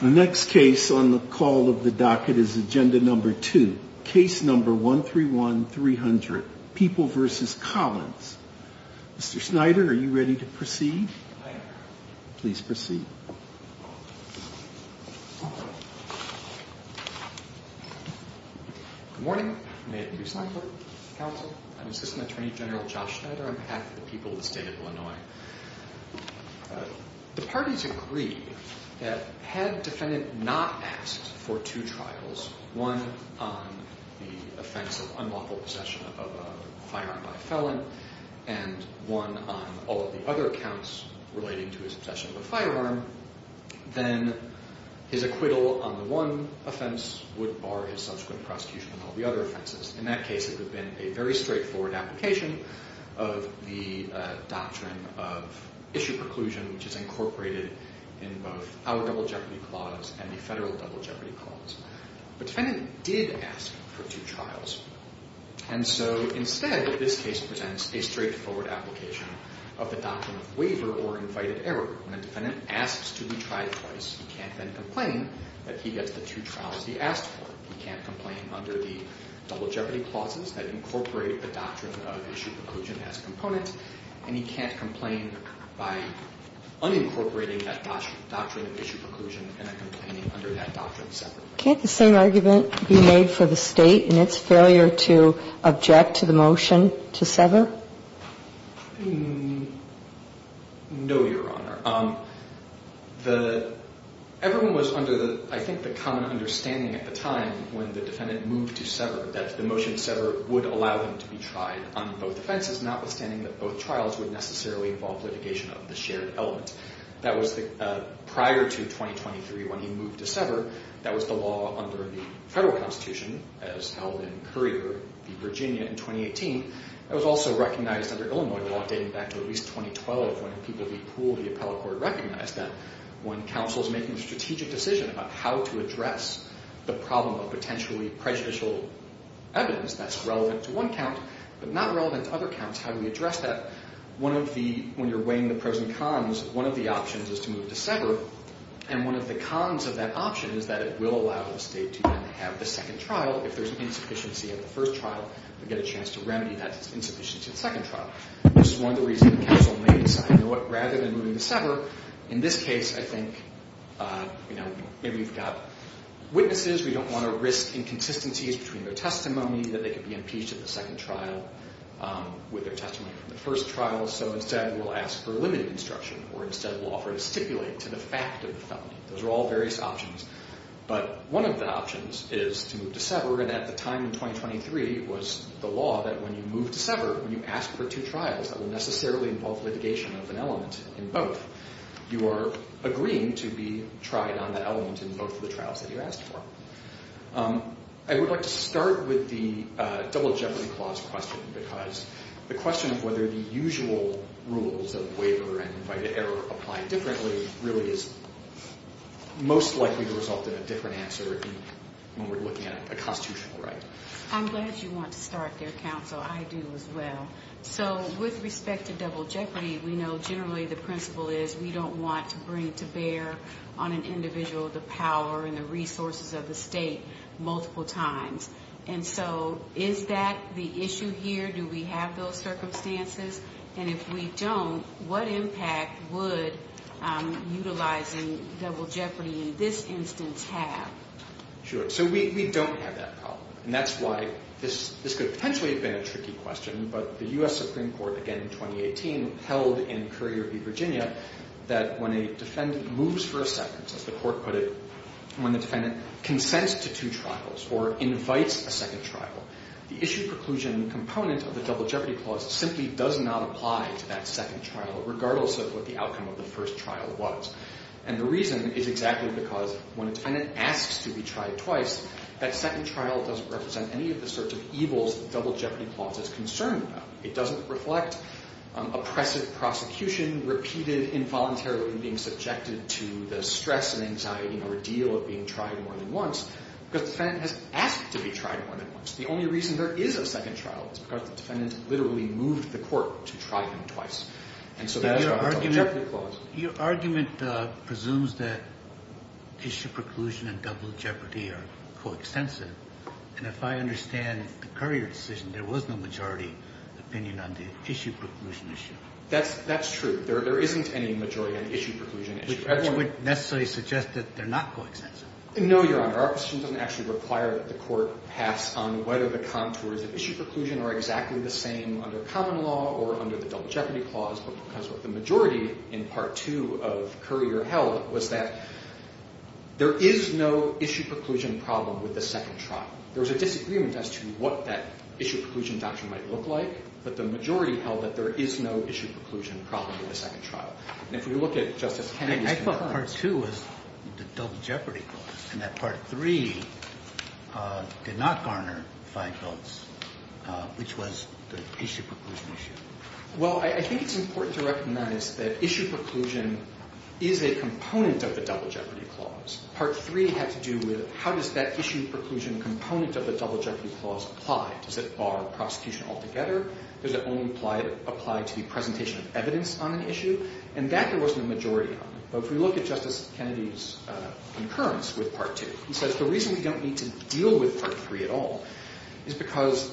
The next case on the call of the docket is Agenda No. 2, Case No. 131-300, People v. Collins. Mr. Snyder, are you ready to proceed? I am. Please proceed. Good morning. I'm Andrew Snyder, counsel. I'm Assistant Attorney General Josh Snyder on behalf of the people of the state of Illinois. The parties agree that had defendant not asked for two trials, one on the offense of unlawful possession of a firearm by a felon, and one on all of the other accounts relating to his possession of a firearm, then his acquittal on the one offense would bar his subsequent prosecution on all the other offenses. In that case, it would have been a very straightforward application of the doctrine of issue preclusion, which is incorporated in both our Double Jeopardy Clause and the federal Double Jeopardy Clause. But defendant did ask for two trials. And so instead, this case presents a straightforward application of the doctrine of waiver or invited error. When a defendant asks to be tried twice, he can't then complain that he gets the two trials he asked for. He can't complain under the Double Jeopardy Clauses that incorporate the doctrine of issue preclusion as a component. And he can't complain by unincorporating that doctrine of issue preclusion and then complaining under that doctrine separately. Can't the same argument be made for the state in its failure to object to the motion to sever? No, Your Honor. Everyone was under, I think, the common understanding at the time when the defendant moved to sever that the motion to sever would allow them to be tried on both offenses, notwithstanding that both trials would necessarily involve litigation of the shared element. Prior to 2023, when he moved to sever, that was the law under the federal Constitution, as held in Currie v. Virginia in 2018. That was also recognized under Illinois law dating back to at least 2012, when people who pooled the appellate court recognized that when counsel is making a strategic decision about how to address the problem of potentially prejudicial evidence that's relevant to one count but not relevant to other counts, how do we address that? When you're weighing the pros and cons, one of the options is to move to sever, and one of the cons of that option is that it will allow the state to then have the second trial if there's an insufficiency at the first trial, to get a chance to remedy that insufficiency at the second trial. This is one of the reasons counsel may decide, rather than moving to sever, in this case, I think, you know, maybe we've got witnesses, we don't want to risk inconsistencies between their testimony, that they could be impeached at the second trial with their testimony from the first trial, so instead we'll ask for limited instruction, or instead we'll offer to stipulate to the fact of the felony. Those are all various options, but one of the options is to move to sever, and at the time in 2023 it was the law that when you move to sever, when you ask for two trials that will necessarily involve litigation of an element in both, you are agreeing to be tried on that element in both of the trials that you asked for. I would like to start with the double jeopardy clause question, because the question of whether the usual rules of waiver and invited error apply differently really is most likely to result in a different answer when we're looking at a constitutional right. I'm glad you want to start there, counsel. I do as well. So with respect to double jeopardy, we know generally the principle is we don't want to bring to bear on an individual the power and the resources of the state multiple times, and so is that the issue here? Do we have those circumstances? And if we don't, what impact would utilizing double jeopardy in this instance have? Sure. So we don't have that problem, and that's why this could potentially have been a tricky question, but the U.S. Supreme Court again in 2018 held in Currier v. Virginia that when a defendant moves for a sentence, as the court put it, when the defendant consents to two trials or invites a second trial, the issue preclusion component of the double jeopardy clause simply does not apply to that second trial regardless of what the outcome of the first trial was. And the reason is exactly because when a defendant asks to be tried twice, that second trial doesn't represent any of the sorts of evils the double jeopardy clause is concerned about. It doesn't reflect oppressive prosecution, repeated involuntarily being subjected to the stress and anxiety and ordeal of being tried more than once, because the defendant has asked to be tried more than once. The only reason there is a second trial is because the defendant literally moved the court to try him twice. And so that is what the double jeopardy clause. Your argument presumes that issue preclusion and double jeopardy are coextensive, and if I understand the Currier decision, there was no majority opinion on the issue preclusion issue. That's true. There isn't any majority on the issue preclusion issue. Which would necessarily suggest that they're not coextensive. No, Your Honor. Our position doesn't actually require that the court pass on whether the contours of issue preclusion are exactly the same under common law or under the double jeopardy clause, but because of the majority in Part 2 of Currier held was that there is no issue preclusion problem with the second trial. There was a disagreement as to what that issue preclusion doctrine might look like, but the majority held that there is no issue preclusion problem with the second trial. I thought Part 2 was the double jeopardy clause, and that Part 3 did not garner five votes, which was the issue preclusion issue. Well, I think it's important to recognize that issue preclusion is a component of the double jeopardy clause. Part 3 had to do with how does that issue preclusion component of the double jeopardy clause apply. Does it bar prosecution altogether? Does it only apply to the presentation of evidence on an issue? And that there wasn't a majority on. But if we look at Justice Kennedy's concurrence with Part 2, he says the reason we don't need to deal with Part 3 at all is because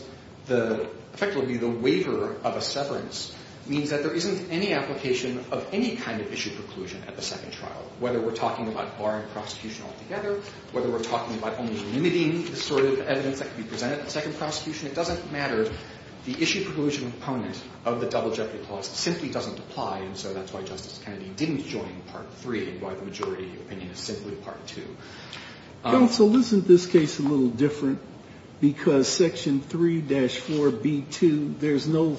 effectively the waiver of a severance means that there isn't any application of any kind of issue preclusion at the second trial. Whether we're talking about barring prosecution altogether, whether we're talking about only limiting the sort of evidence that can be presented at the second prosecution, it doesn't matter. The issue preclusion component of the double jeopardy clause simply doesn't apply, and so that's why Justice Kennedy didn't join Part 3 and why the majority opinion is simply Part 2. Counsel, isn't this case a little different? Because Section 3-4b2, there's no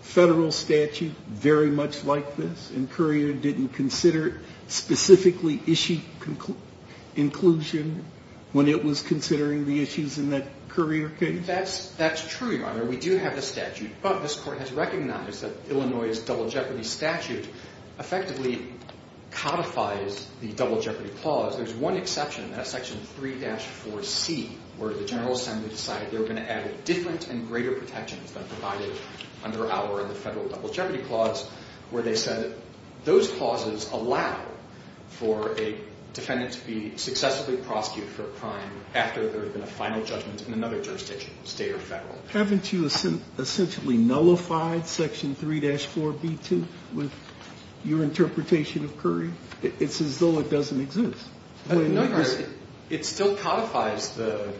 Federal statute very much like this, and Courier didn't consider specifically issue inclusion when it was considering the issues in that Courier case? That's true, Your Honor. We do have the statute, but this Court has recognized that Illinois' double jeopardy statute effectively codifies the double jeopardy clause. There's one exception, that's Section 3-4c, where the General Assembly decided they were going to add different and greater protections than provided under our Federal double jeopardy clause, where they said those clauses allow for a defendant to be successfully prosecuted for a crime after there had been a final judgment in another jurisdiction, State or Federal. Haven't you essentially nullified Section 3-4b2 with your interpretation of Courier? It's as though it doesn't exist. No, Your Honor. It still codifies the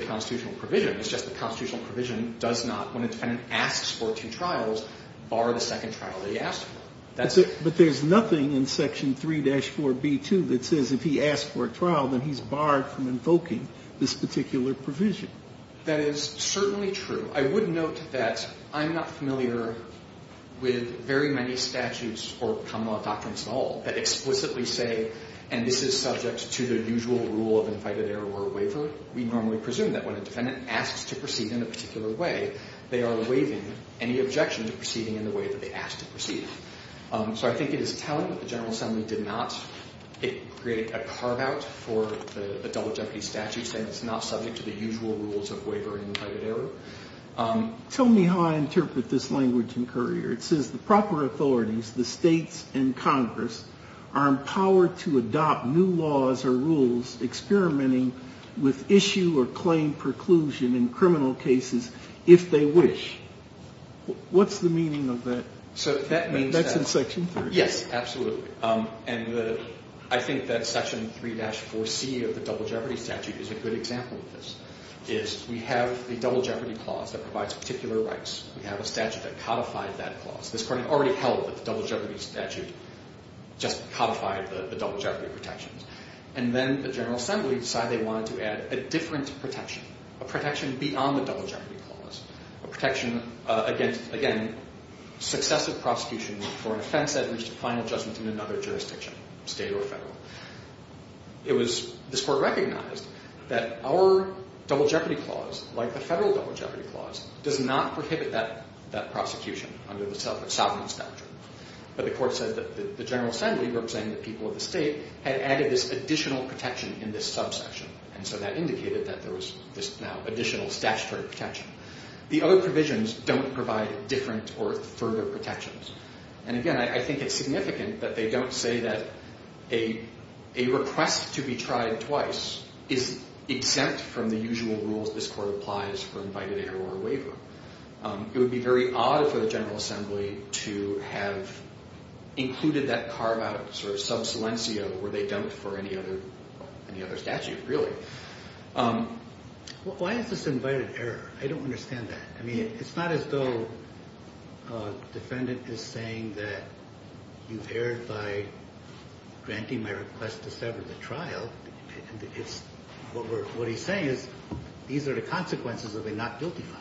constitutional provision. It's just the constitutional provision does not, when a defendant asks for two trials, bar the second trial that he asks for. But there's nothing in Section 3-4b2 that says if he asks for a trial, then he's barred from invoking this particular provision. That is certainly true. I would note that I'm not familiar with very many statutes or common law doctrines at all that explicitly say, and this is subject to the usual rule of invited error or waiver, we normally presume that when a defendant asks to proceed in a particular way, they are waiving any objection to proceeding in the way that they asked to proceed. So I think it is telling that the General Assembly did not create a carve-out for the Adult Jeopardy statute saying it's not subject to the usual rules of waiver and invited error. Tell me how I interpret this language in Courier. It says the proper authorities, the States and Congress, are empowered to adopt new laws or rules experimenting with issue or claim preclusion in criminal cases if they wish. What's the meaning of that? That's in Section 3. Yes, absolutely. And I think that Section 3-4c of the Double Jeopardy statute is a good example of this. We have the Double Jeopardy clause that provides particular rights. We have a statute that codified that clause. This Court had already held that the Double Jeopardy statute just codified the Double Jeopardy protections. And then the General Assembly decided they wanted to add a different protection, a protection beyond the Double Jeopardy clause, a protection against, again, successive prosecution for an offense that reached a final judgment in another jurisdiction, State or Federal. It was this Court recognized that our Double Jeopardy clause, like the Federal Double Jeopardy clause, does not prohibit that prosecution under the sovereign statute. But the Court said that the General Assembly, representing the people of the State, had added this additional protection in this subsection. And so that indicated that there was now additional statutory protection. The other provisions don't provide different or further protections. And again, I think it's significant that they don't say that a request to be tried twice is exempt from the usual rules this Court applies for invited error or waiver. It would be very odd for the General Assembly to have included that carve-out, sort of sub silencio where they don't for any other statute, really. Why is this invited error? I don't understand that. I mean, it's not as though a defendant is saying that you've erred by granting my request to sever the trial. What he's saying is these are the consequences of a not guilty law.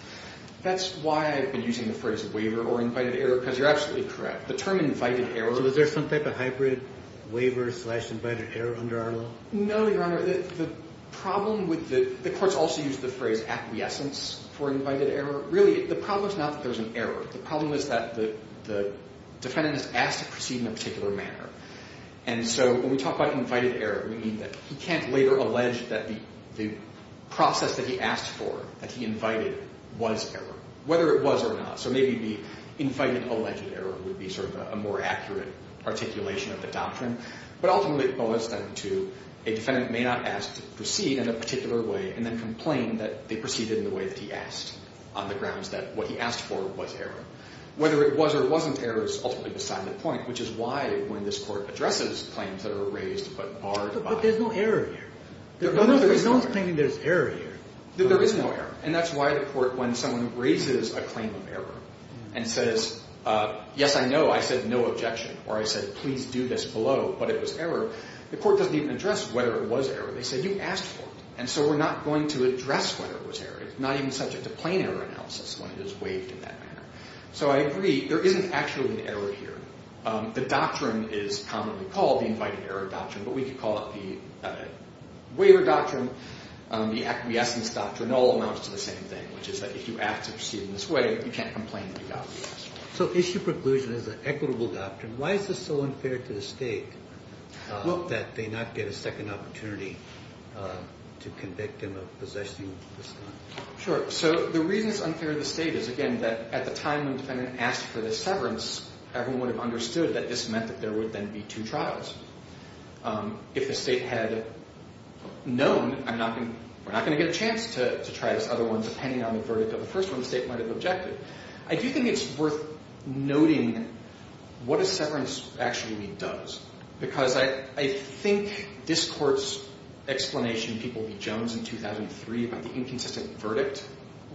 That's why I've been using the phrase waiver or invited error, because you're absolutely correct. The term invited error – So is there some type of hybrid waiver slash invited error under our law? No, Your Honor. The problem with the – the Court's also used the phrase acquiescence for invited error. Really, the problem is not that there's an error. The problem is that the defendant is asked to proceed in a particular manner. And so when we talk about invited error, we mean that he can't later allege that the process that he asked for, that he invited, was error, whether it was or not. So maybe the invited alleged error would be sort of a more accurate articulation of the doctrine. But ultimately, it boils down to a defendant may not ask to proceed in a particular way and then complain that they proceeded in the way that he asked on the grounds that what he asked for was error. Whether it was or wasn't error is ultimately beside the point, which is why when this Court addresses claims that are raised but barred by – But there's no error here. There is no error. There's no explaining there's error here. There is no error. And that's why the Court, when someone raises a claim of error and says, yes, I know, I said no objection, or I said please do this below, but it was error, the Court doesn't even address whether it was error. They say you asked for it, and so we're not going to address whether it was error. It's not even subject to plain error analysis when it is waived in that manner. So I agree there isn't actually an error here. The doctrine is commonly called the invited error doctrine, but we could call it the waiver doctrine. The acquiescence doctrine all amounts to the same thing, which is that if you act to proceed in this way, you can't complain that you got what you asked for. So issue preclusion is an equitable doctrine. Why is this so unfair to the State that they not get a second opportunity to convict him of possessing this gun? Sure. So the reason it's unfair to the State is, again, that at the time the defendant asked for this severance, everyone would have understood that this meant that there would then be two trials. If the State had known, we're not going to get a chance to try this other one, depending on the verdict of the first one the State might have objected. I do think it's worth noting what a severance actually does, because I think this Court's explanation in People v. Jones in 2003 about the inconsistent verdict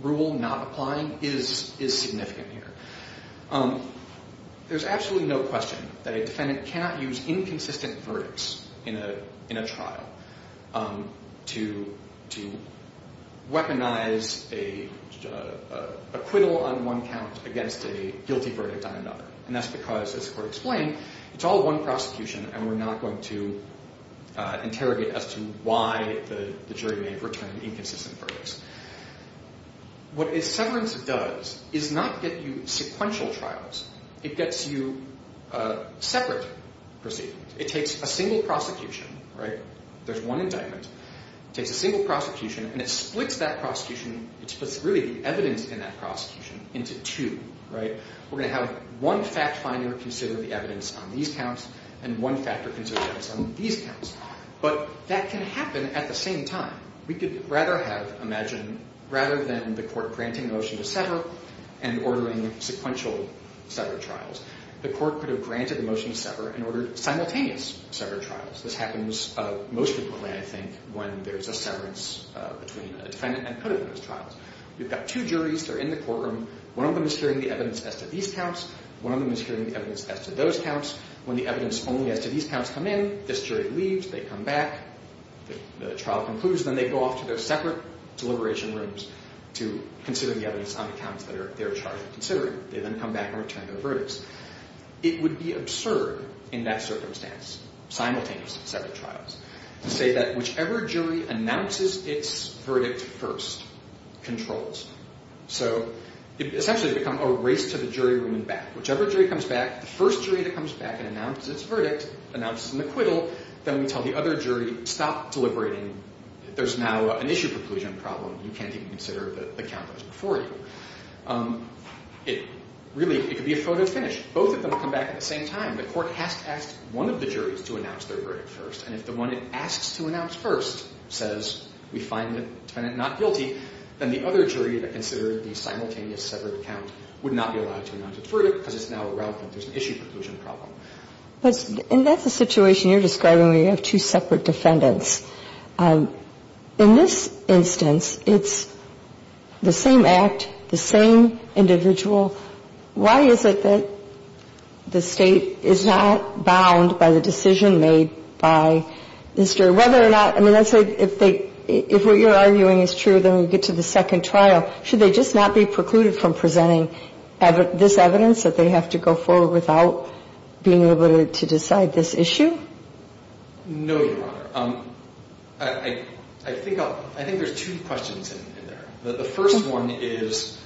rule not applying is significant here. There's absolutely no question that a defendant cannot use inconsistent verdicts in a trial to weaponize an acquittal on one count against a guilty verdict on another. And that's because, as the Court explained, it's all one prosecution, and we're not going to interrogate as to why the jury may have returned inconsistent verdicts. What a severance does is not get you sequential trials. It gets you separate proceedings. It takes a single prosecution, right? There's one indictment. It takes a single prosecution, and it splits that prosecution, it splits really the evidence in that prosecution into two, right? We're going to have one fact-finder consider the evidence on these counts, and one factor-considerer on these counts. But that can happen at the same time. We could rather have imagined rather than the Court granting a motion to sever and ordering sequential sever trials, the Court could have granted a motion to sever and ordered simultaneous sever trials. This happens most frequently, I think, when there's a severance between a defendant and an acquittal in those trials. You've got two juries. They're in the courtroom. One of them is hearing the evidence as to these counts. One of them is hearing the evidence as to those counts. When the evidence only as to these counts come in, this jury leaves. They come back. The trial concludes. Then they go off to their separate deliberation rooms to consider the evidence on the counts that they're charged with considering. They then come back and return their verdicts. It would be absurd in that circumstance, simultaneous sever trials, to say that whichever jury announces its verdict first controls. So it would essentially become a race to the jury room and back. Whichever jury comes back, the first jury that comes back and announces its verdict, announces an acquittal, then we tell the other jury, stop deliberating. There's now an issue preclusion problem. You can't even consider the count that was before you. Really, it could be a photo finish. Both of them come back at the same time. The court has to ask one of the juries to announce their verdict first. And if the one it asks to announce first says, we find the defendant not guilty, then the other jury that considered the simultaneous severed count would not be allowed to announce its verdict because it's now irrelevant. There's an issue preclusion problem. And that's the situation you're describing where you have two separate defendants. In this instance, it's the same act, the same individual. Why is it that the State is not bound by the decision made by this jury? Whether or not, I mean, let's say if they, if what you're arguing is true, then we get to the second trial. Should they just not be precluded from presenting this evidence that they have to go forward without being able to decide this issue? No, Your Honor. I think there's two questions in there. The first one is,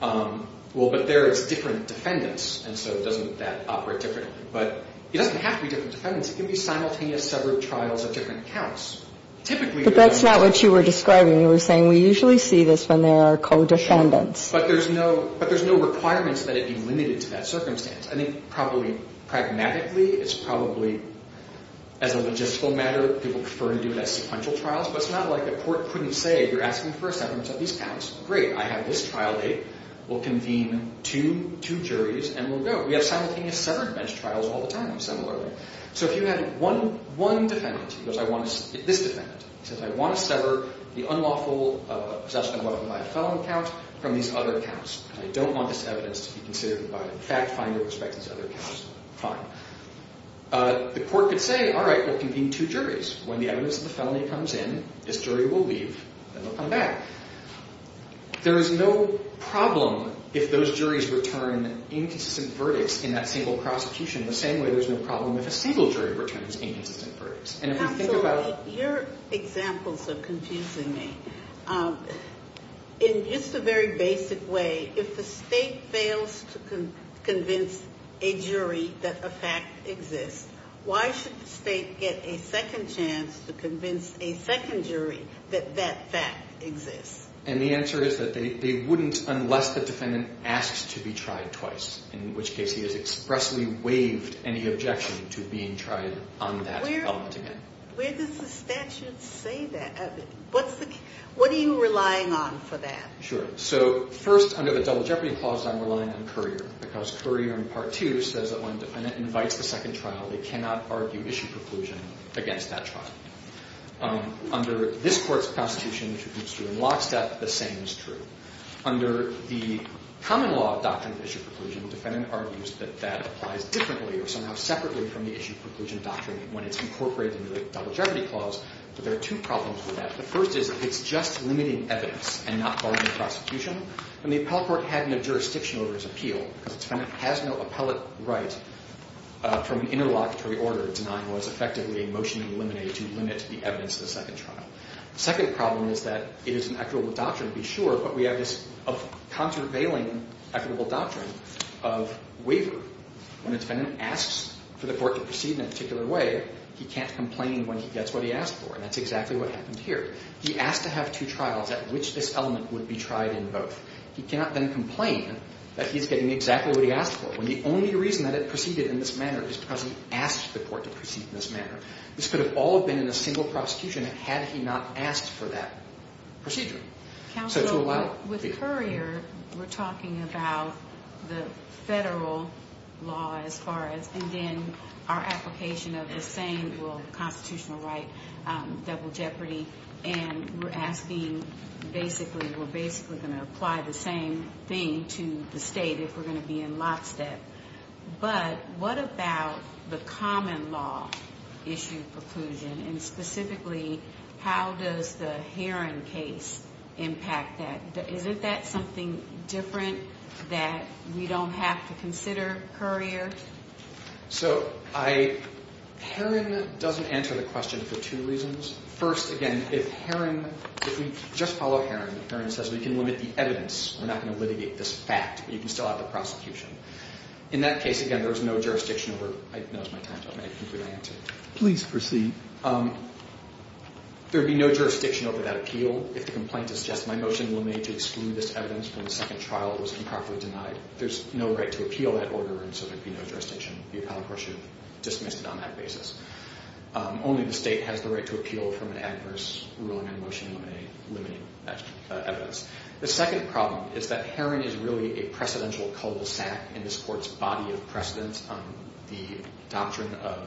well, but there it's different defendants, and so doesn't that operate differently? But it doesn't have to be different defendants. It can be simultaneous severed trials of different counts. Typically, there's a difference. In what you're describing, you were saying we usually see this when there are co-defendants. But there's no requirements that it be limited to that circumstance. I think probably pragmatically, it's probably as a logistical matter, people prefer to do it as sequential trials. But it's not like a court couldn't say, you're asking for a severance of these counts. Great, I have this trial date. We'll convene two juries and we'll go. We have simultaneous severed bench trials all the time, similarly. So if you had one defendant, this defendant, says, I want to sever the unlawful possession of a weapon by a felon count from these other counts. I don't want this evidence to be considered by a fact finder who expects these other counts. Fine. The court could say, all right, we'll convene two juries. When the evidence of the felony comes in, this jury will leave and they'll come back. There is no problem if those juries return inconsistent verdicts in that single prosecution. In the same way, there's no problem if a single jury returns inconsistent verdicts. Absolutely. Your examples are confusing me. In just a very basic way, if the state fails to convince a jury that a fact exists, why should the state get a second chance to convince a second jury that that fact exists? And the answer is that they wouldn't unless the defendant asks to be tried twice, in which case he has expressly waived any objection to being tried on that element again. Where does the statute say that? What are you relying on for that? Sure. So first, under the Double Jeopardy Clause, I'm relying on Currier, because Currier in Part 2 says that when a defendant invites a second trial, they cannot argue issue preclusion against that trial. Under this Court's Constitution, which we've seen in lockstep, the same is true. Under the Common Law Doctrine of Issue Preclusion, the defendant argues that that applies differently or somehow separately from the Issue Preclusion Doctrine when it's incorporated into the Double Jeopardy Clause. But there are two problems with that. The first is that it's just limiting evidence and not barring prosecution. And the appellate court had no jurisdiction over its appeal because the defendant has no appellate right from an interlocutory order denying what is effectively a motion to eliminate, to limit the evidence of the second trial. The second problem is that it is an equitable doctrine, to be sure, but we have this contraveiling equitable doctrine of waiver. When a defendant asks for the court to proceed in a particular way, he can't complain when he gets what he asked for. And that's exactly what happened here. He asked to have two trials at which this element would be tried in both. He cannot then complain that he's getting exactly what he asked for when the only reason that it proceeded in this manner is because he asked the court to proceed in this manner. This could have all been in a single prosecution had he not asked for that procedure. So to allow it. Counsel, with Currier, we're talking about the federal law as far as, and then our application of the same constitutional right, double jeopardy, and we're asking basically, we're basically going to apply the same thing to the state if we're going to be in lockstep. But what about the common law issue preclusion, and specifically how does the Heron case impact that? Isn't that something different that we don't have to consider, Currier? So Heron doesn't answer the question for two reasons. First, again, if Heron, if we just follow Heron, Heron says we can limit the evidence. We're not going to litigate this fact, but you can still have the prosecution. In that case, again, there's no jurisdiction over it. I know it's my time, so I'm going to conclude my answer. Please proceed. There would be no jurisdiction over that appeal if the complaint is just my motion will be made to exclude this evidence from the second trial. It was improperly denied. There's no right to appeal that order, and so there would be no jurisdiction. The appellant court should dismiss it on that basis. Only the state has the right to appeal from an adverse ruling on motion limiting evidence. The second problem is that Heron is really a precedential cul-de-sac in this court's body of precedence on the doctrine of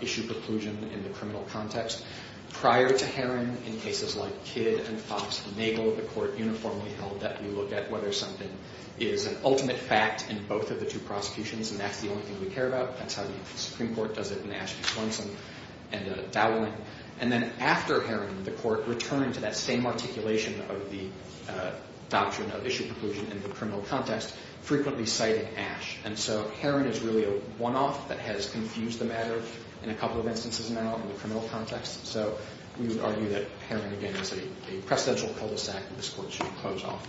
issue preclusion in the criminal context. Prior to Heron, in cases like Kidd and Fox-Nagle, the court uniformly held that we look at whether something is an ultimate fact in both of the two prosecutions, and that's the only thing we care about. That's how the Supreme Court does it in Ashby-Clemson and Dowling. And then after Heron, the court returned to that same articulation of the doctrine of issue preclusion in the criminal context, frequently citing Ash. And so Heron is really a one-off that has confused the matter in a couple of instances now in the criminal context, so we would argue that Heron, again, is a precedential cul-de-sac that this court should close off.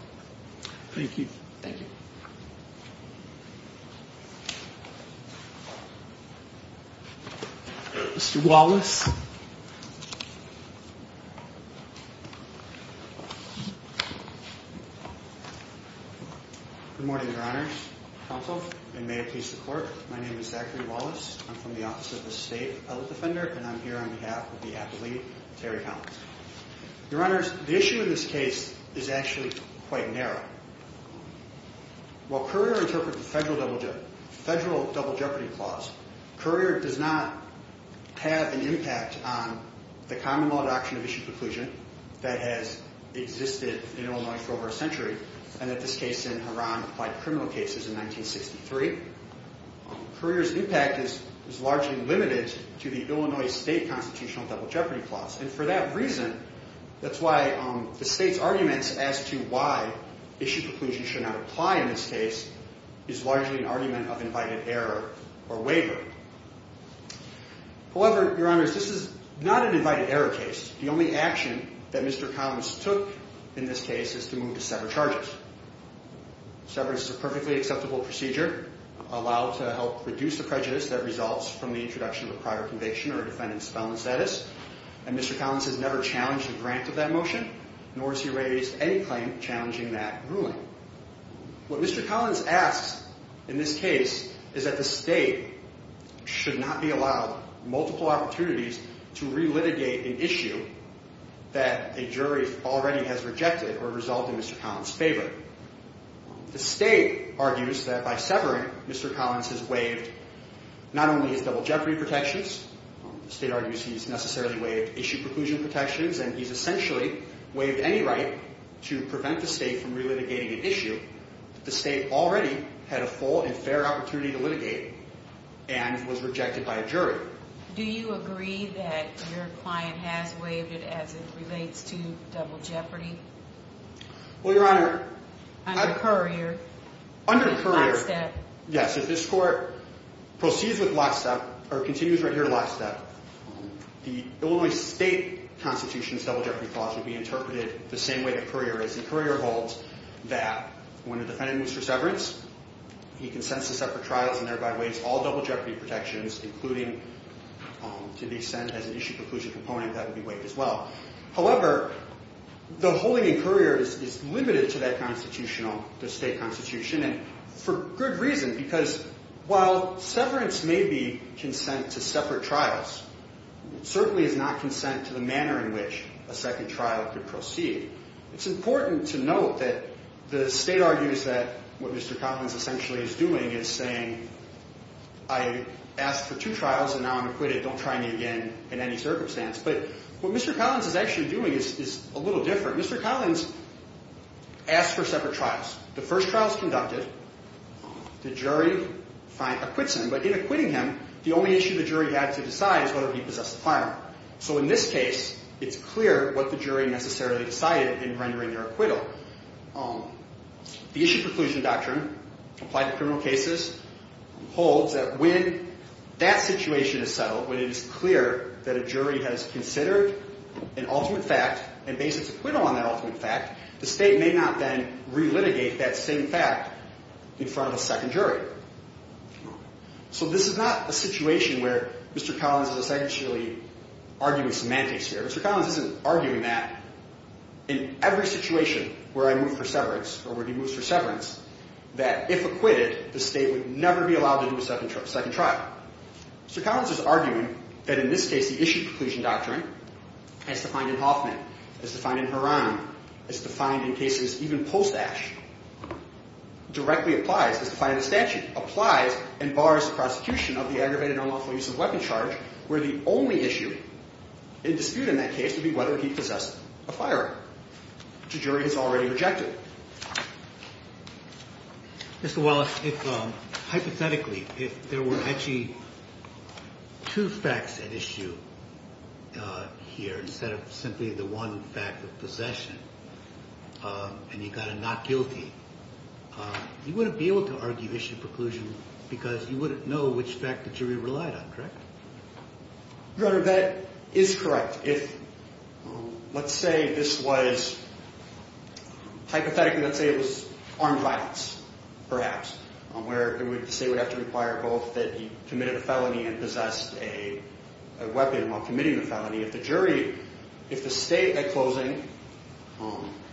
Thank you. Thank you. Mr. Wallace. Good morning, Your Honors. Counsel, and may it please the Court, my name is Zachary Wallace. I'm from the Office of the State Appellate Defender, and I'm here on behalf of the appellee, Terry Collins. Your Honors, the issue in this case is actually quite narrow. While Currier interpreted the federal double jeopardy clause, Currier does not have an impact on the common law doctrine of issue preclusion that has existed in Illinois for over a century, and that this case in Heron applied to criminal cases in 1963. Currier's impact is largely limited to the Illinois state constitutional double jeopardy clause, and for that reason, that's why the state's arguments as to why issue preclusion should not apply in this case is largely an argument of invited error or waiver. However, Your Honors, this is not an invited error case. The only action that Mr. Collins took in this case is to move to sever charges. Severance is a perfectly acceptable procedure, allowed to help reduce the prejudice that results from the introduction of a prior conviction or a defendant's felon status, and Mr. Collins has never challenged the grant of that motion, nor has he raised any claim challenging that ruling. What Mr. Collins asks in this case is that the state should not be allowed multiple opportunities to relitigate an issue that a jury already has rejected or resolved in Mr. Collins' favor. The state argues that by severing, Mr. Collins has waived not only his double jeopardy protections, the state argues he's necessarily waived issue preclusion protections, and he's essentially waived any right to prevent the state from relitigating an issue that the state already had a full and fair opportunity to litigate and was rejected by a jury. Do you agree that your client has waived it as it relates to double jeopardy? Well, Your Honor. Under Currier. Under Currier. Lockstep. Yes, if this court proceeds with lockstep, or continues right here to lockstep, the Illinois state constitution's double jeopardy clause would be interpreted the same way that Currier is. Currier holds that when a defendant moves for severance, he consents to separate trials and thereby waives all double jeopardy protections, including to the extent as an issue preclusion component, that would be waived as well. However, the holding in Currier is limited to that constitutional, the state constitution, and for good reason, because while severance may be consent to separate trials, it certainly is not consent to the manner in which a second trial could proceed. It's important to note that the state argues that what Mr. Collins essentially is doing is saying, I asked for two trials and now I'm acquitted. Don't try me again in any circumstance. But what Mr. Collins is actually doing is a little different. Mr. Collins asked for separate trials. The first trial is conducted. The jury acquits him. But in acquitting him, the only issue the jury had to decide is whether he possessed a firearm. So in this case, it's clear what the jury necessarily decided in rendering their acquittal. The issue preclusion doctrine applied to criminal cases holds that when that situation is settled, when it is clear that a jury has considered an ultimate fact and based its acquittal on that ultimate fact, the state may not then relitigate that same fact in front of a second jury. So this is not a situation where Mr. Collins is essentially arguing semantics here. Mr. Collins isn't arguing that in every situation where I move for severance or where he moves for severance, that if acquitted, the state would never be allowed to do a second trial. Mr. Collins is arguing that in this case, the issue preclusion doctrine, as defined in Hoffman, as defined in Horan, as defined in cases even post-Ash, directly applies, as defined in the statute, applies and bars the prosecution of the aggravated unlawful use of a weapon charge, where the only issue in dispute in that case would be whether he possessed a firearm, which a jury has already rejected. Mr. Wallace, if hypothetically, if there were actually two facts at issue here instead of simply the one fact of possession and you got a not guilty, you wouldn't be able to argue issue preclusion because you wouldn't know which fact the jury relied on, correct? Your Honor, that is correct. If, let's say this was, hypothetically, let's say it was armed violence, perhaps, where the state would have to require both that he committed a felony and possessed a weapon while committing the felony. If the jury, if the state at closing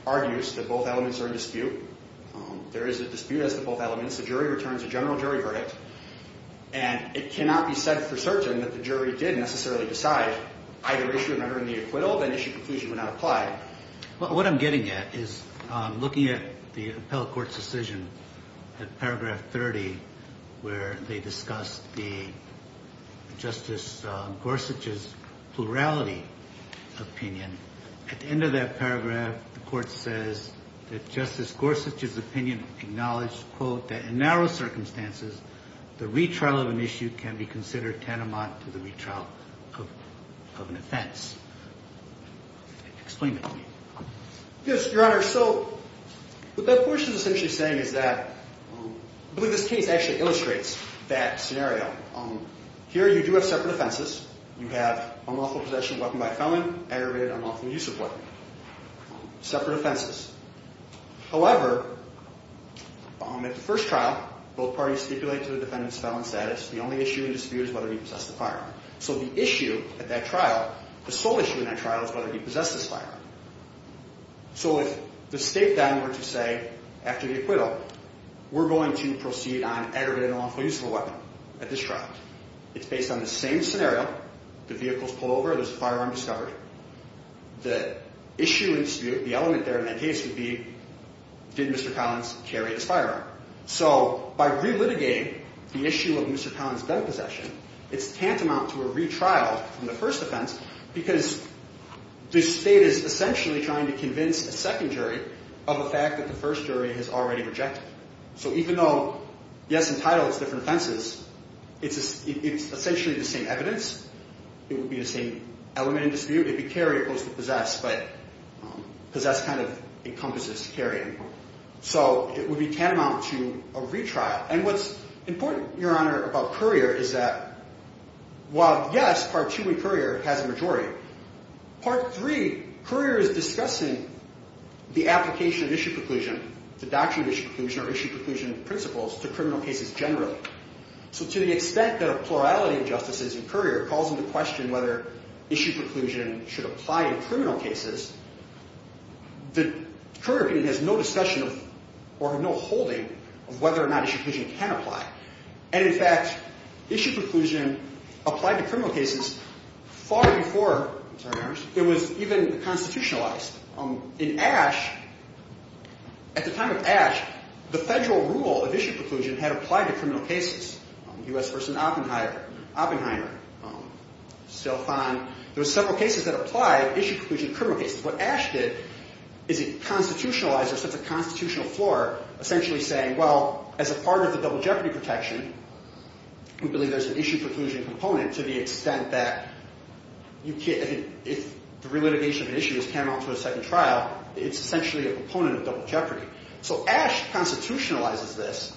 argues that both elements are in dispute, there is a dispute as to both elements, the jury returns a general jury verdict, and it cannot be said for certain that the jury did necessarily decide either issue of rendering the acquittal, then issue of preclusion would not apply. What I'm getting at is looking at the appellate court's decision at paragraph 30, where they discussed the Justice Gorsuch's plurality opinion. At the end of that paragraph, the court says that Justice Gorsuch's opinion acknowledged, quote, that in narrow circumstances, the retrial of an issue can be considered tantamount to the retrial of an offense. Explain that to me. Yes, Your Honor. So what that portion is essentially saying is that, I believe this case actually illustrates that scenario. Here you do have separate offenses. You have unlawful possession of a weapon by a felon, aggravated unlawful use of a weapon. Separate offenses. However, at the first trial, both parties stipulate to the defendant's felon status, the only issue in dispute is whether he possessed a firearm. So the issue at that trial, the sole issue in that trial is whether he possessed this firearm. So if the state then were to say after the acquittal, we're going to proceed on aggravated unlawful use of a weapon at this trial. It's based on the same scenario. The vehicle's pulled over. There's a firearm discovered. The issue in dispute, the element there in that case would be, did Mr. Collins carry this firearm? So by relitigating the issue of Mr. Collins' gun possession, it's tantamount to a retrial from the first offense because the state is essentially trying to convince a second jury of a fact that the first jury has already rejected. So even though yes, in title, it's different offenses, it's essentially the same evidence. It would be the same element in dispute. It would be carry opposed to possess, but possess kind of encompasses carrying. So it would be tantamount to a retrial. And what's important, Your Honor, about Currier is that while yes, Part 2 in Currier has a majority, Part 3, Currier is discussing the application of issue preclusion, the doctrine of issue preclusion or issue preclusion principles to criminal cases generally. So to the extent that a plurality of justices in Currier calls into question whether issue preclusion should apply in criminal cases, the Currier opinion has no discussion or no holding of whether or not issue preclusion can apply. And in fact, issue preclusion applied to criminal cases far before it was even constitutionalized. In Ashe, at the time of Ashe, the federal rule of issue preclusion had applied to criminal cases. U.S. versus Oppenheimer. Oppenheimer, Stelfon. There were several cases that applied issue preclusion to criminal cases. What Ashe did is he constitutionalized it. So it's a constitutional floor essentially saying, well, as a part of the double jeopardy protection, we believe there's an issue preclusion component to the extent that you can't, if the relitigation of an issue is paramount to a second trial, it's essentially a component of double jeopardy. So Ashe constitutionalizes this.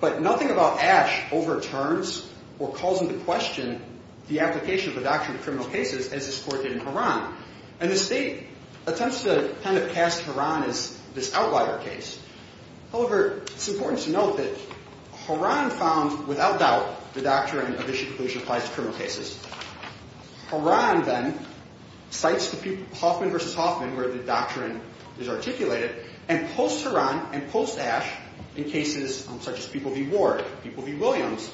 But nothing about Ashe overturns or calls into question the application of the doctrine of criminal cases as this court did in Horan. And the state attempts to kind of cast Horan as this outlier case. However, it's important to note that Horan found without doubt the doctrine of issue preclusion applies to criminal cases. Horan then cites the Hoffman versus Hoffman where the doctrine is articulated and posts Horan and posts Ashe in cases such as People v. Ward, People v. Williams.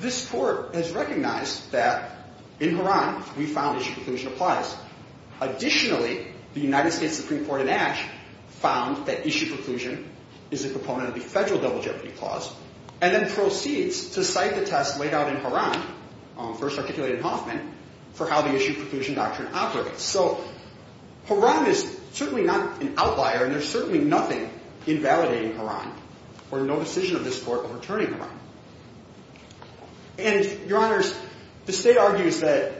This court has recognized that in Horan we found issue preclusion applies. Additionally, the United States Supreme Court in Ashe found that issue preclusion is a component of the federal double jeopardy clause and then proceeds to cite the test laid out in Horan, first articulated in Hoffman, for how the issue preclusion doctrine operates. So Horan is certainly not an outlier and there's certainly nothing invalidating Horan or no decision of this court overturning Horan. And, Your Honors, the state argues that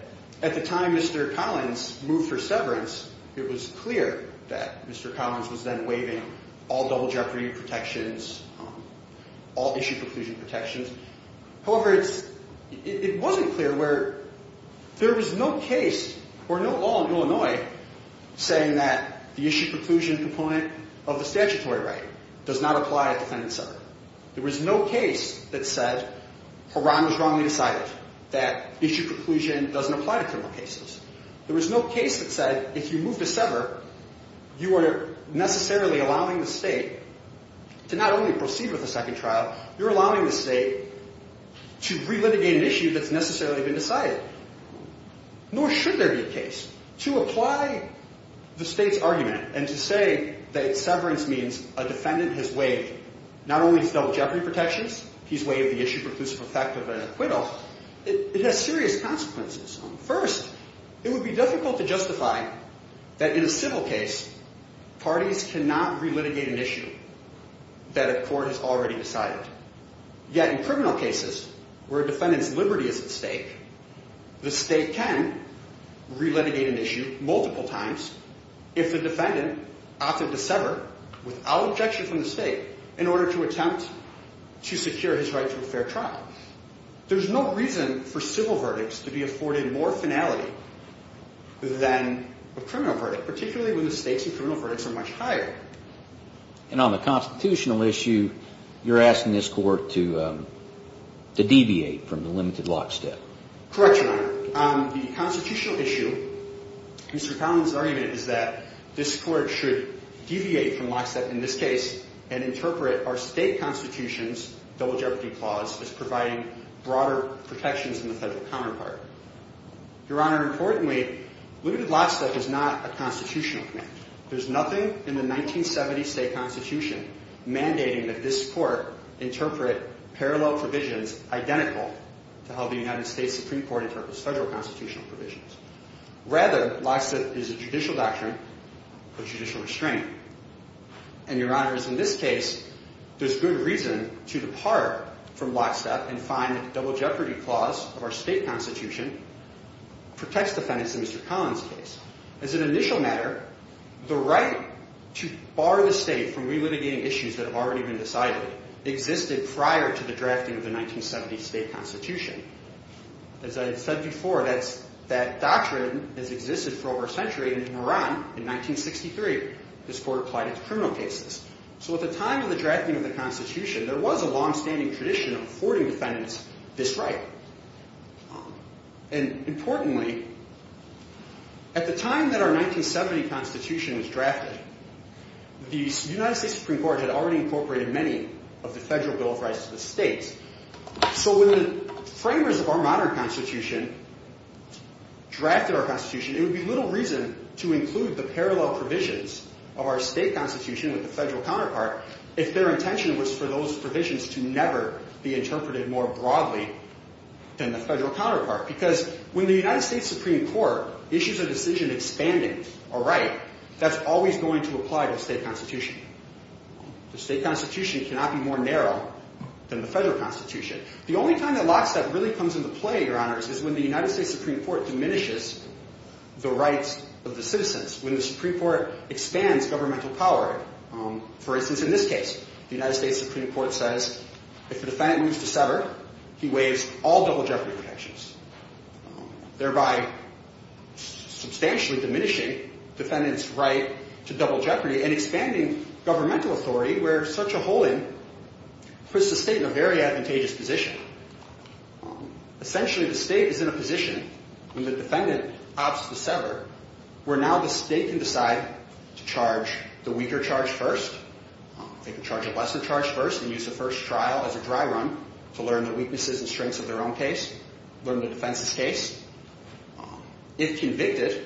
at the time Mr. Collins moved for severance, it was clear that Mr. Collins was then waiving all double jeopardy protections, all issue preclusion protections. However, it wasn't clear where there was no case or no law in Illinois saying that the issue preclusion component of the statutory right does not apply to defendants severed. There was no case that said Horan was wrongly decided, that issue preclusion doesn't apply to criminal cases. There was no case that said if you move to sever, you are necessarily allowing the state to not only proceed with a second trial, you're allowing the state to relitigate an issue that's necessarily been decided. Nor should there be a case. To apply the state's argument and to say that severance means a defendant has waived not only his double jeopardy protections, he's waived the issue preclusive effect of an acquittal, it has serious consequences. First, it would be difficult to justify that in a civil case, parties cannot relitigate an issue that a court has already decided. Yet in criminal cases where a defendant's liberty is at stake, the state can relitigate an issue multiple times if the defendant opted to sever without objection from the state in order to attempt to secure his right to a fair trial. There's no reason for civil verdicts to be afforded more finality than a criminal verdict, particularly when the stakes in criminal verdicts are much higher. And on the constitutional issue, you're asking this court to deviate from the limited lockstep. Correct, Your Honor. On the constitutional issue, Mr. Conlin's argument is that this court should deviate from lockstep in this case and interpret our state constitution's double jeopardy clause as providing broader protections than the federal counterpart. Your Honor, importantly, limited lockstep is not a constitutional command. There's nothing in the 1970 state constitution mandating that this court interpret parallel provisions identical to how the United States Supreme Court interprets federal constitutional provisions. Rather, lockstep is a judicial doctrine or judicial restraint. And, Your Honor, in this case, there's good reason to depart from lockstep and find that the double jeopardy clause of our state constitution protects defendants in Mr. Conlin's case. As an initial matter, the right to bar the state from relitigating issues that have already been decided existed prior to the drafting of the 1970 state constitution. As I said before, that doctrine has existed for over a century. In Iran, in 1963, this court applied it to criminal cases. So at the time of the drafting of the constitution, there was a longstanding tradition of affording defendants this right. And, importantly, at the time that our 1970 constitution was drafted, the United States Supreme Court had already incorporated many of the federal Bill of Rights to the states. So when the framers of our modern constitution drafted our constitution, it would be little reason to include the parallel provisions of our state constitution with the federal counterpart if their intention was for those provisions to never be interpreted more broadly than the federal counterpart. Because when the United States Supreme Court issues a decision expanding a right, that's always going to apply to the state constitution. The state constitution cannot be more narrow than the federal constitution. The only time that lockstep really comes into play, Your Honors, is when the United States Supreme Court diminishes the rights of the citizens, when the Supreme Court expands governmental power. For instance, in this case, the United States Supreme Court says, if the defendant moves to sever, he waives all double jeopardy protections, thereby substantially diminishing the defendant's right to double jeopardy and expanding governmental authority where such a holding puts the state in a very advantageous position. Essentially, the state is in a position, when the defendant opts to sever, where now the state can decide to charge the weaker charge first. They can charge a lesser charge first and use the first trial as a dry run to learn the weaknesses and strengths of their own case, learn the defense's case. If convicted,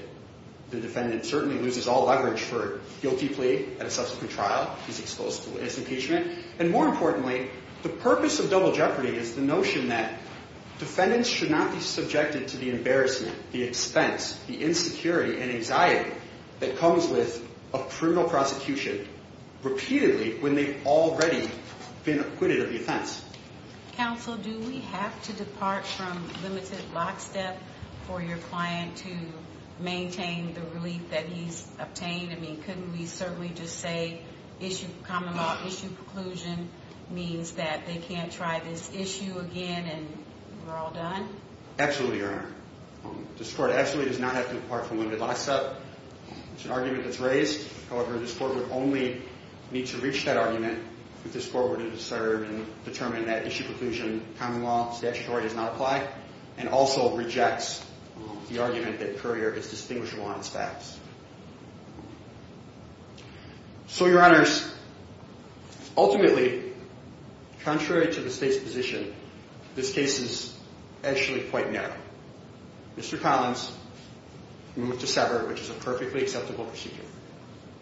the defendant certainly loses all leverage for a guilty plea at a subsequent trial. He's exposed to his impeachment. And more importantly, the purpose of double jeopardy is the notion that defendants should not be subjected to the embarrassment, the expense, the insecurity and anxiety that comes with a criminal prosecution repeatedly when they've already been acquitted of the offense. Counsel, do we have to depart from limited lockstep for your client to maintain the relief that he's obtained? I mean, couldn't we certainly just say common law issue preclusion means that they can't try this issue again and we're all done? Absolutely, Your Honor. This court absolutely does not have to depart from limited lockstep. It's an argument that's raised. However, this court would only need to reach that argument if this court were to discern and determine that issue preclusion common law statutory does not apply and also rejects the argument that courier is distinguishable on its facts. So, Your Honors, ultimately, contrary to the state's position, this case is actually quite narrow. Mr. Collins, we move to separate, which is a perfectly acceptable procedure.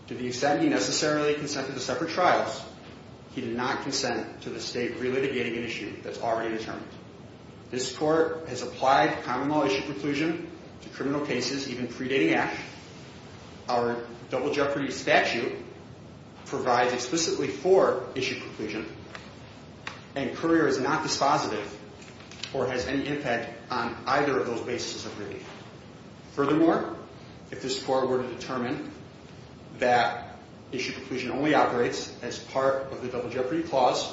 To the extent he necessarily consented to separate trials, he did not consent to the state relitigating an issue that's already determined. This court has applied common law issue preclusion to criminal cases even predating Ash. Our double jeopardy statute provides explicitly for issue preclusion and courier is not dispositive or has any impact on either of those bases of relief. Furthermore, if this court were to determine that issue preclusion only operates as part of the double jeopardy clause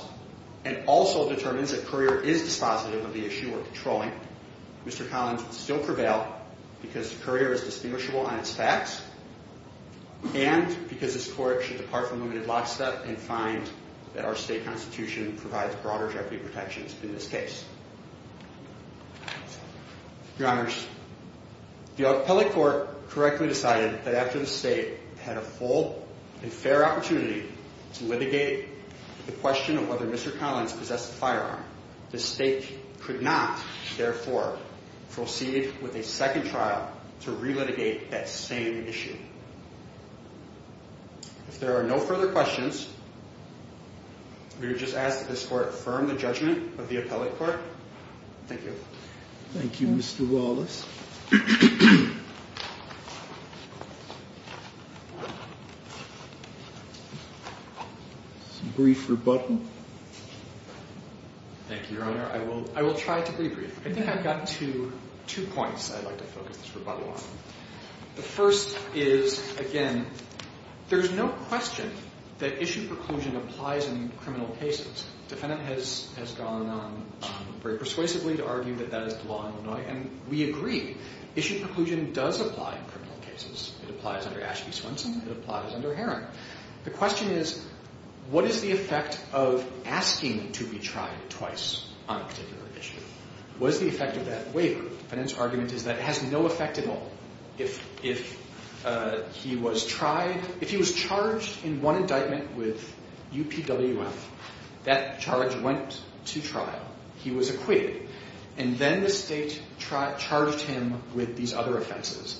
and also determines that courier is dispositive of the issue we're controlling, Mr. Collins would still prevail because courier is distinguishable on its facts and because this court should depart from limited lockstep and find that our state constitution provides broader jeopardy protections in this case. Your Honors, the appellate court correctly decided that after the state had a full and fair opportunity to litigate the question of whether Mr. Collins possessed a firearm, the state could not, therefore, proceed with a second trial to relitigate that same issue. If there are no further questions, we would just ask that this court affirm the judgment of the appellate court Thank you. Thank you, Mr. Wallace. Some brief rebuttal? Thank you, Your Honor. I will try to be brief. I think I've got two points I'd like to focus this rebuttal on. The first is, again, there's no question that issue preclusion applies in criminal cases. The defendant has gone on very persuasively to argue that that is the law in Illinois, and we agree issue preclusion does apply in criminal cases. It applies under Ashby-Swenson. It applies under Herron. The question is, what is the effect of asking to be tried twice on a particular issue? What is the effect of that waiver? The defendant's argument is that it has no effect at all. If he was charged in one indictment with UPWF, that charge went to trial. He was acquitted. And then the state charged him with these other offenses.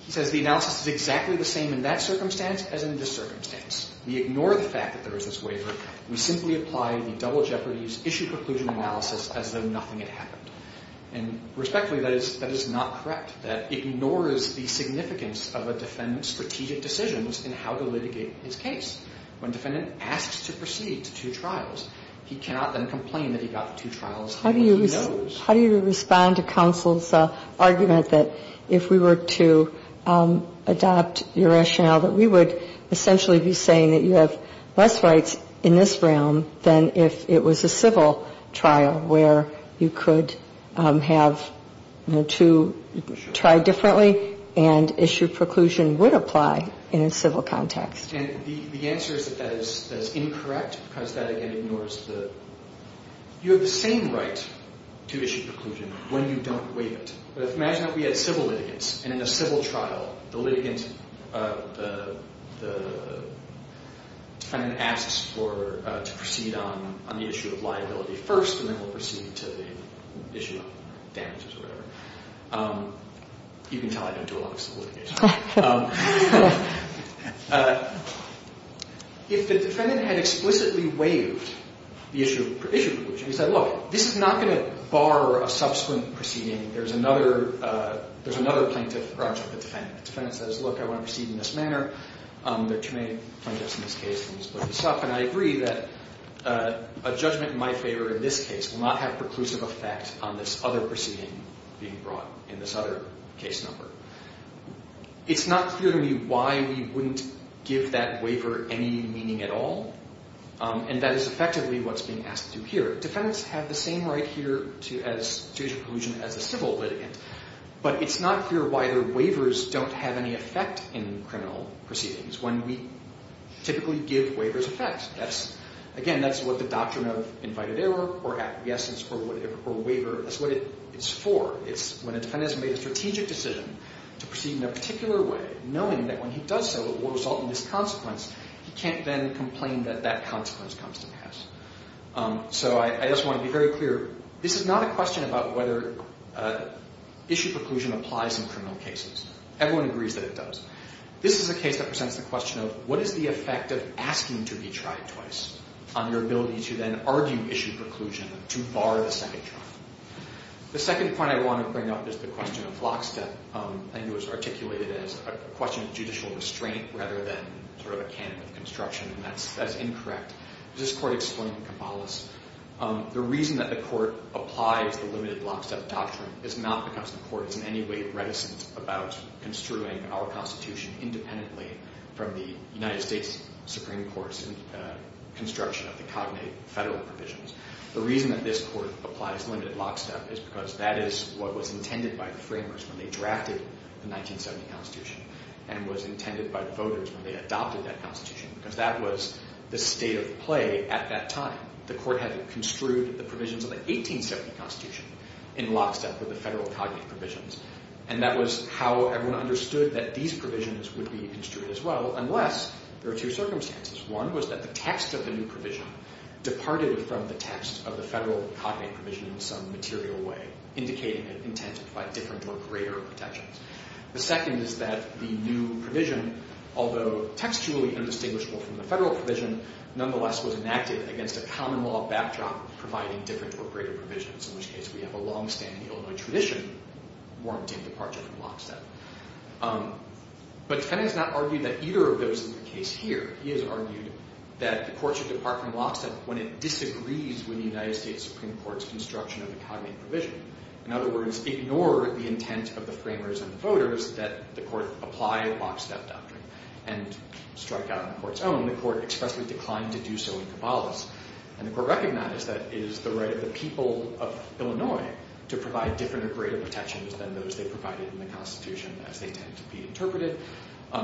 He says the analysis is exactly the same in that circumstance as in this circumstance. We ignore the fact that there is this waiver. We simply apply the double jeopardies issue preclusion analysis as though nothing had happened. And respectfully, that is not correct. That ignores the significance of a defendant's strategic decisions in how to litigate his case. When a defendant asks to proceed to two trials, he cannot then complain that he got the two trials. He knows. How do you respond to counsel's argument that if we were to adopt your rationale that we would essentially be saying that you have less rights in this realm than if it was a civil trial where you could have to try differently and issue preclusion would apply in a civil context? And the answer is that that is incorrect because that, again, ignores the you have the same right to issue preclusion when you don't waive it. But imagine if we had civil litigants and in a civil trial the litigant, the defendant asks to proceed on the issue of liability first and then we'll proceed to the issue of damages or whatever. You can tell I don't do a lot of civil litigation. If the defendant had explicitly waived the issue of preclusion, he said, look, this is not going to bar a subsequent proceeding. There's another plaintiff, or actually the defendant. The defendant says, look, I want to proceed in this manner. There are too many plaintiffs in this case. Let me split this up. And I agree that a judgment in my favor in this case will not have preclusive effect on this other proceeding being brought in this other case number. It's not clear to me why we wouldn't give that waiver any meaning at all. And that is effectively what's being asked to do here. Defendants have the same right here to issue preclusion as a civil litigant. But it's not clear why the waivers don't have any effect in criminal proceedings when we typically give waivers effect. Again, that's what the doctrine of invited error or apogesis or waiver, that's what it's for. It's when a defendant has made a strategic decision to proceed in a particular way, knowing that when he does so it will result in this consequence, he can't then complain that that consequence comes to pass. So I just want to be very clear. This is not a question about whether issue preclusion applies in criminal cases. Everyone agrees that it does. This is a case that presents the question of what is the effect of asking to be tried twice on your ability to then argue issue preclusion to bar the second trial. The second point I want to bring up is the question of lockstep. I think it was articulated as a question of judicial restraint rather than sort of a canon of construction, and that's incorrect. This court explained in Kampalas, the reason that the court applies the limited lockstep doctrine is not because the court is in any way reticent about construing our Constitution independently from the United States Supreme Court's construction of the cognate federal provisions. The reason that this court applies limited lockstep is because that is what was intended by the framers when they drafted the 1970 Constitution and was intended by the voters when they adopted that Constitution because that was the state of play at that time. The court had construed the provisions of the 1870 Constitution in lockstep with the federal cognate provisions, and that was how everyone understood that these provisions would be construed as well unless there are two circumstances. One was that the text of the new provision departed from the text of the federal cognate provision in some material way, indicating an intent to apply different or greater protections. The second is that the new provision, although textually indistinguishable from the federal provision, nonetheless was enacted against a common law backdrop providing different or greater provisions, in which case we have a long-standing Illinois tradition warranting departure from lockstep. But Tennant has not argued that either of those is the case here. He has argued that the courts should depart from lockstep when it disagrees with the United States Supreme Court's construction of the cognate provision. In other words, ignore the intent of the framers and the voters that the court apply lockstep doctrine and strike out on the court's own. The court expressly declined to do so in Caballas, and the court recognized that it is the right of the people of Illinois to provide different or greater protections than those they provided in the Constitution, as they tend to be interpreted.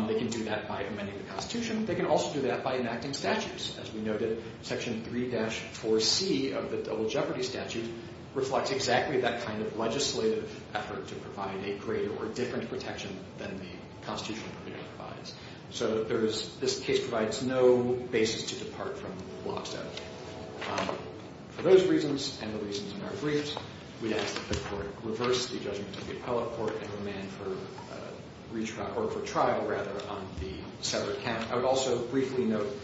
They can do that by amending the Constitution. They can also do that by enacting statutes. As we noted, Section 3-4C of the Double Jeopardy Statute reflects exactly that kind of legislative effort to provide a greater or different protection than the Constitution provides. So this case provides no basis to depart from lockstep. For those reasons and the reasons in our briefs, we ask that the court reverse the judgment of the appellate court and remand for trial on the severed count. I would also briefly note,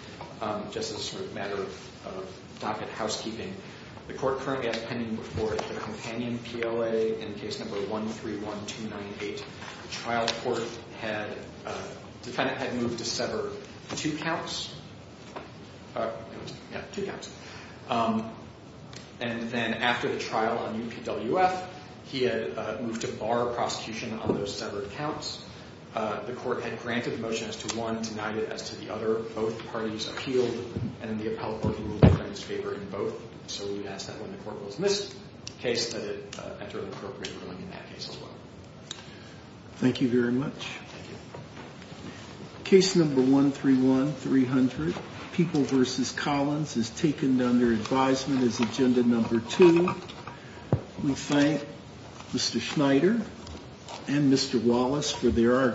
just as a matter of docket housekeeping, the court currently has pending before it the companion PLA in case number 131298. The trial court had moved to sever two counts. And then after the trial on UPWF, he had moved to bar prosecution on those severed counts. The court had granted the motion as to one, denied it as to the other. Both parties appealed, and the appellate working group was in favor in both. So we would ask that when the court was in this case, that it enter an appropriate ruling in that case as well. Thank you very much. Thank you. Case number 131300, People v. Collins, is taken under advisement as agenda number two. We thank Mr. Schneider and Mr. Wallace for their arguments.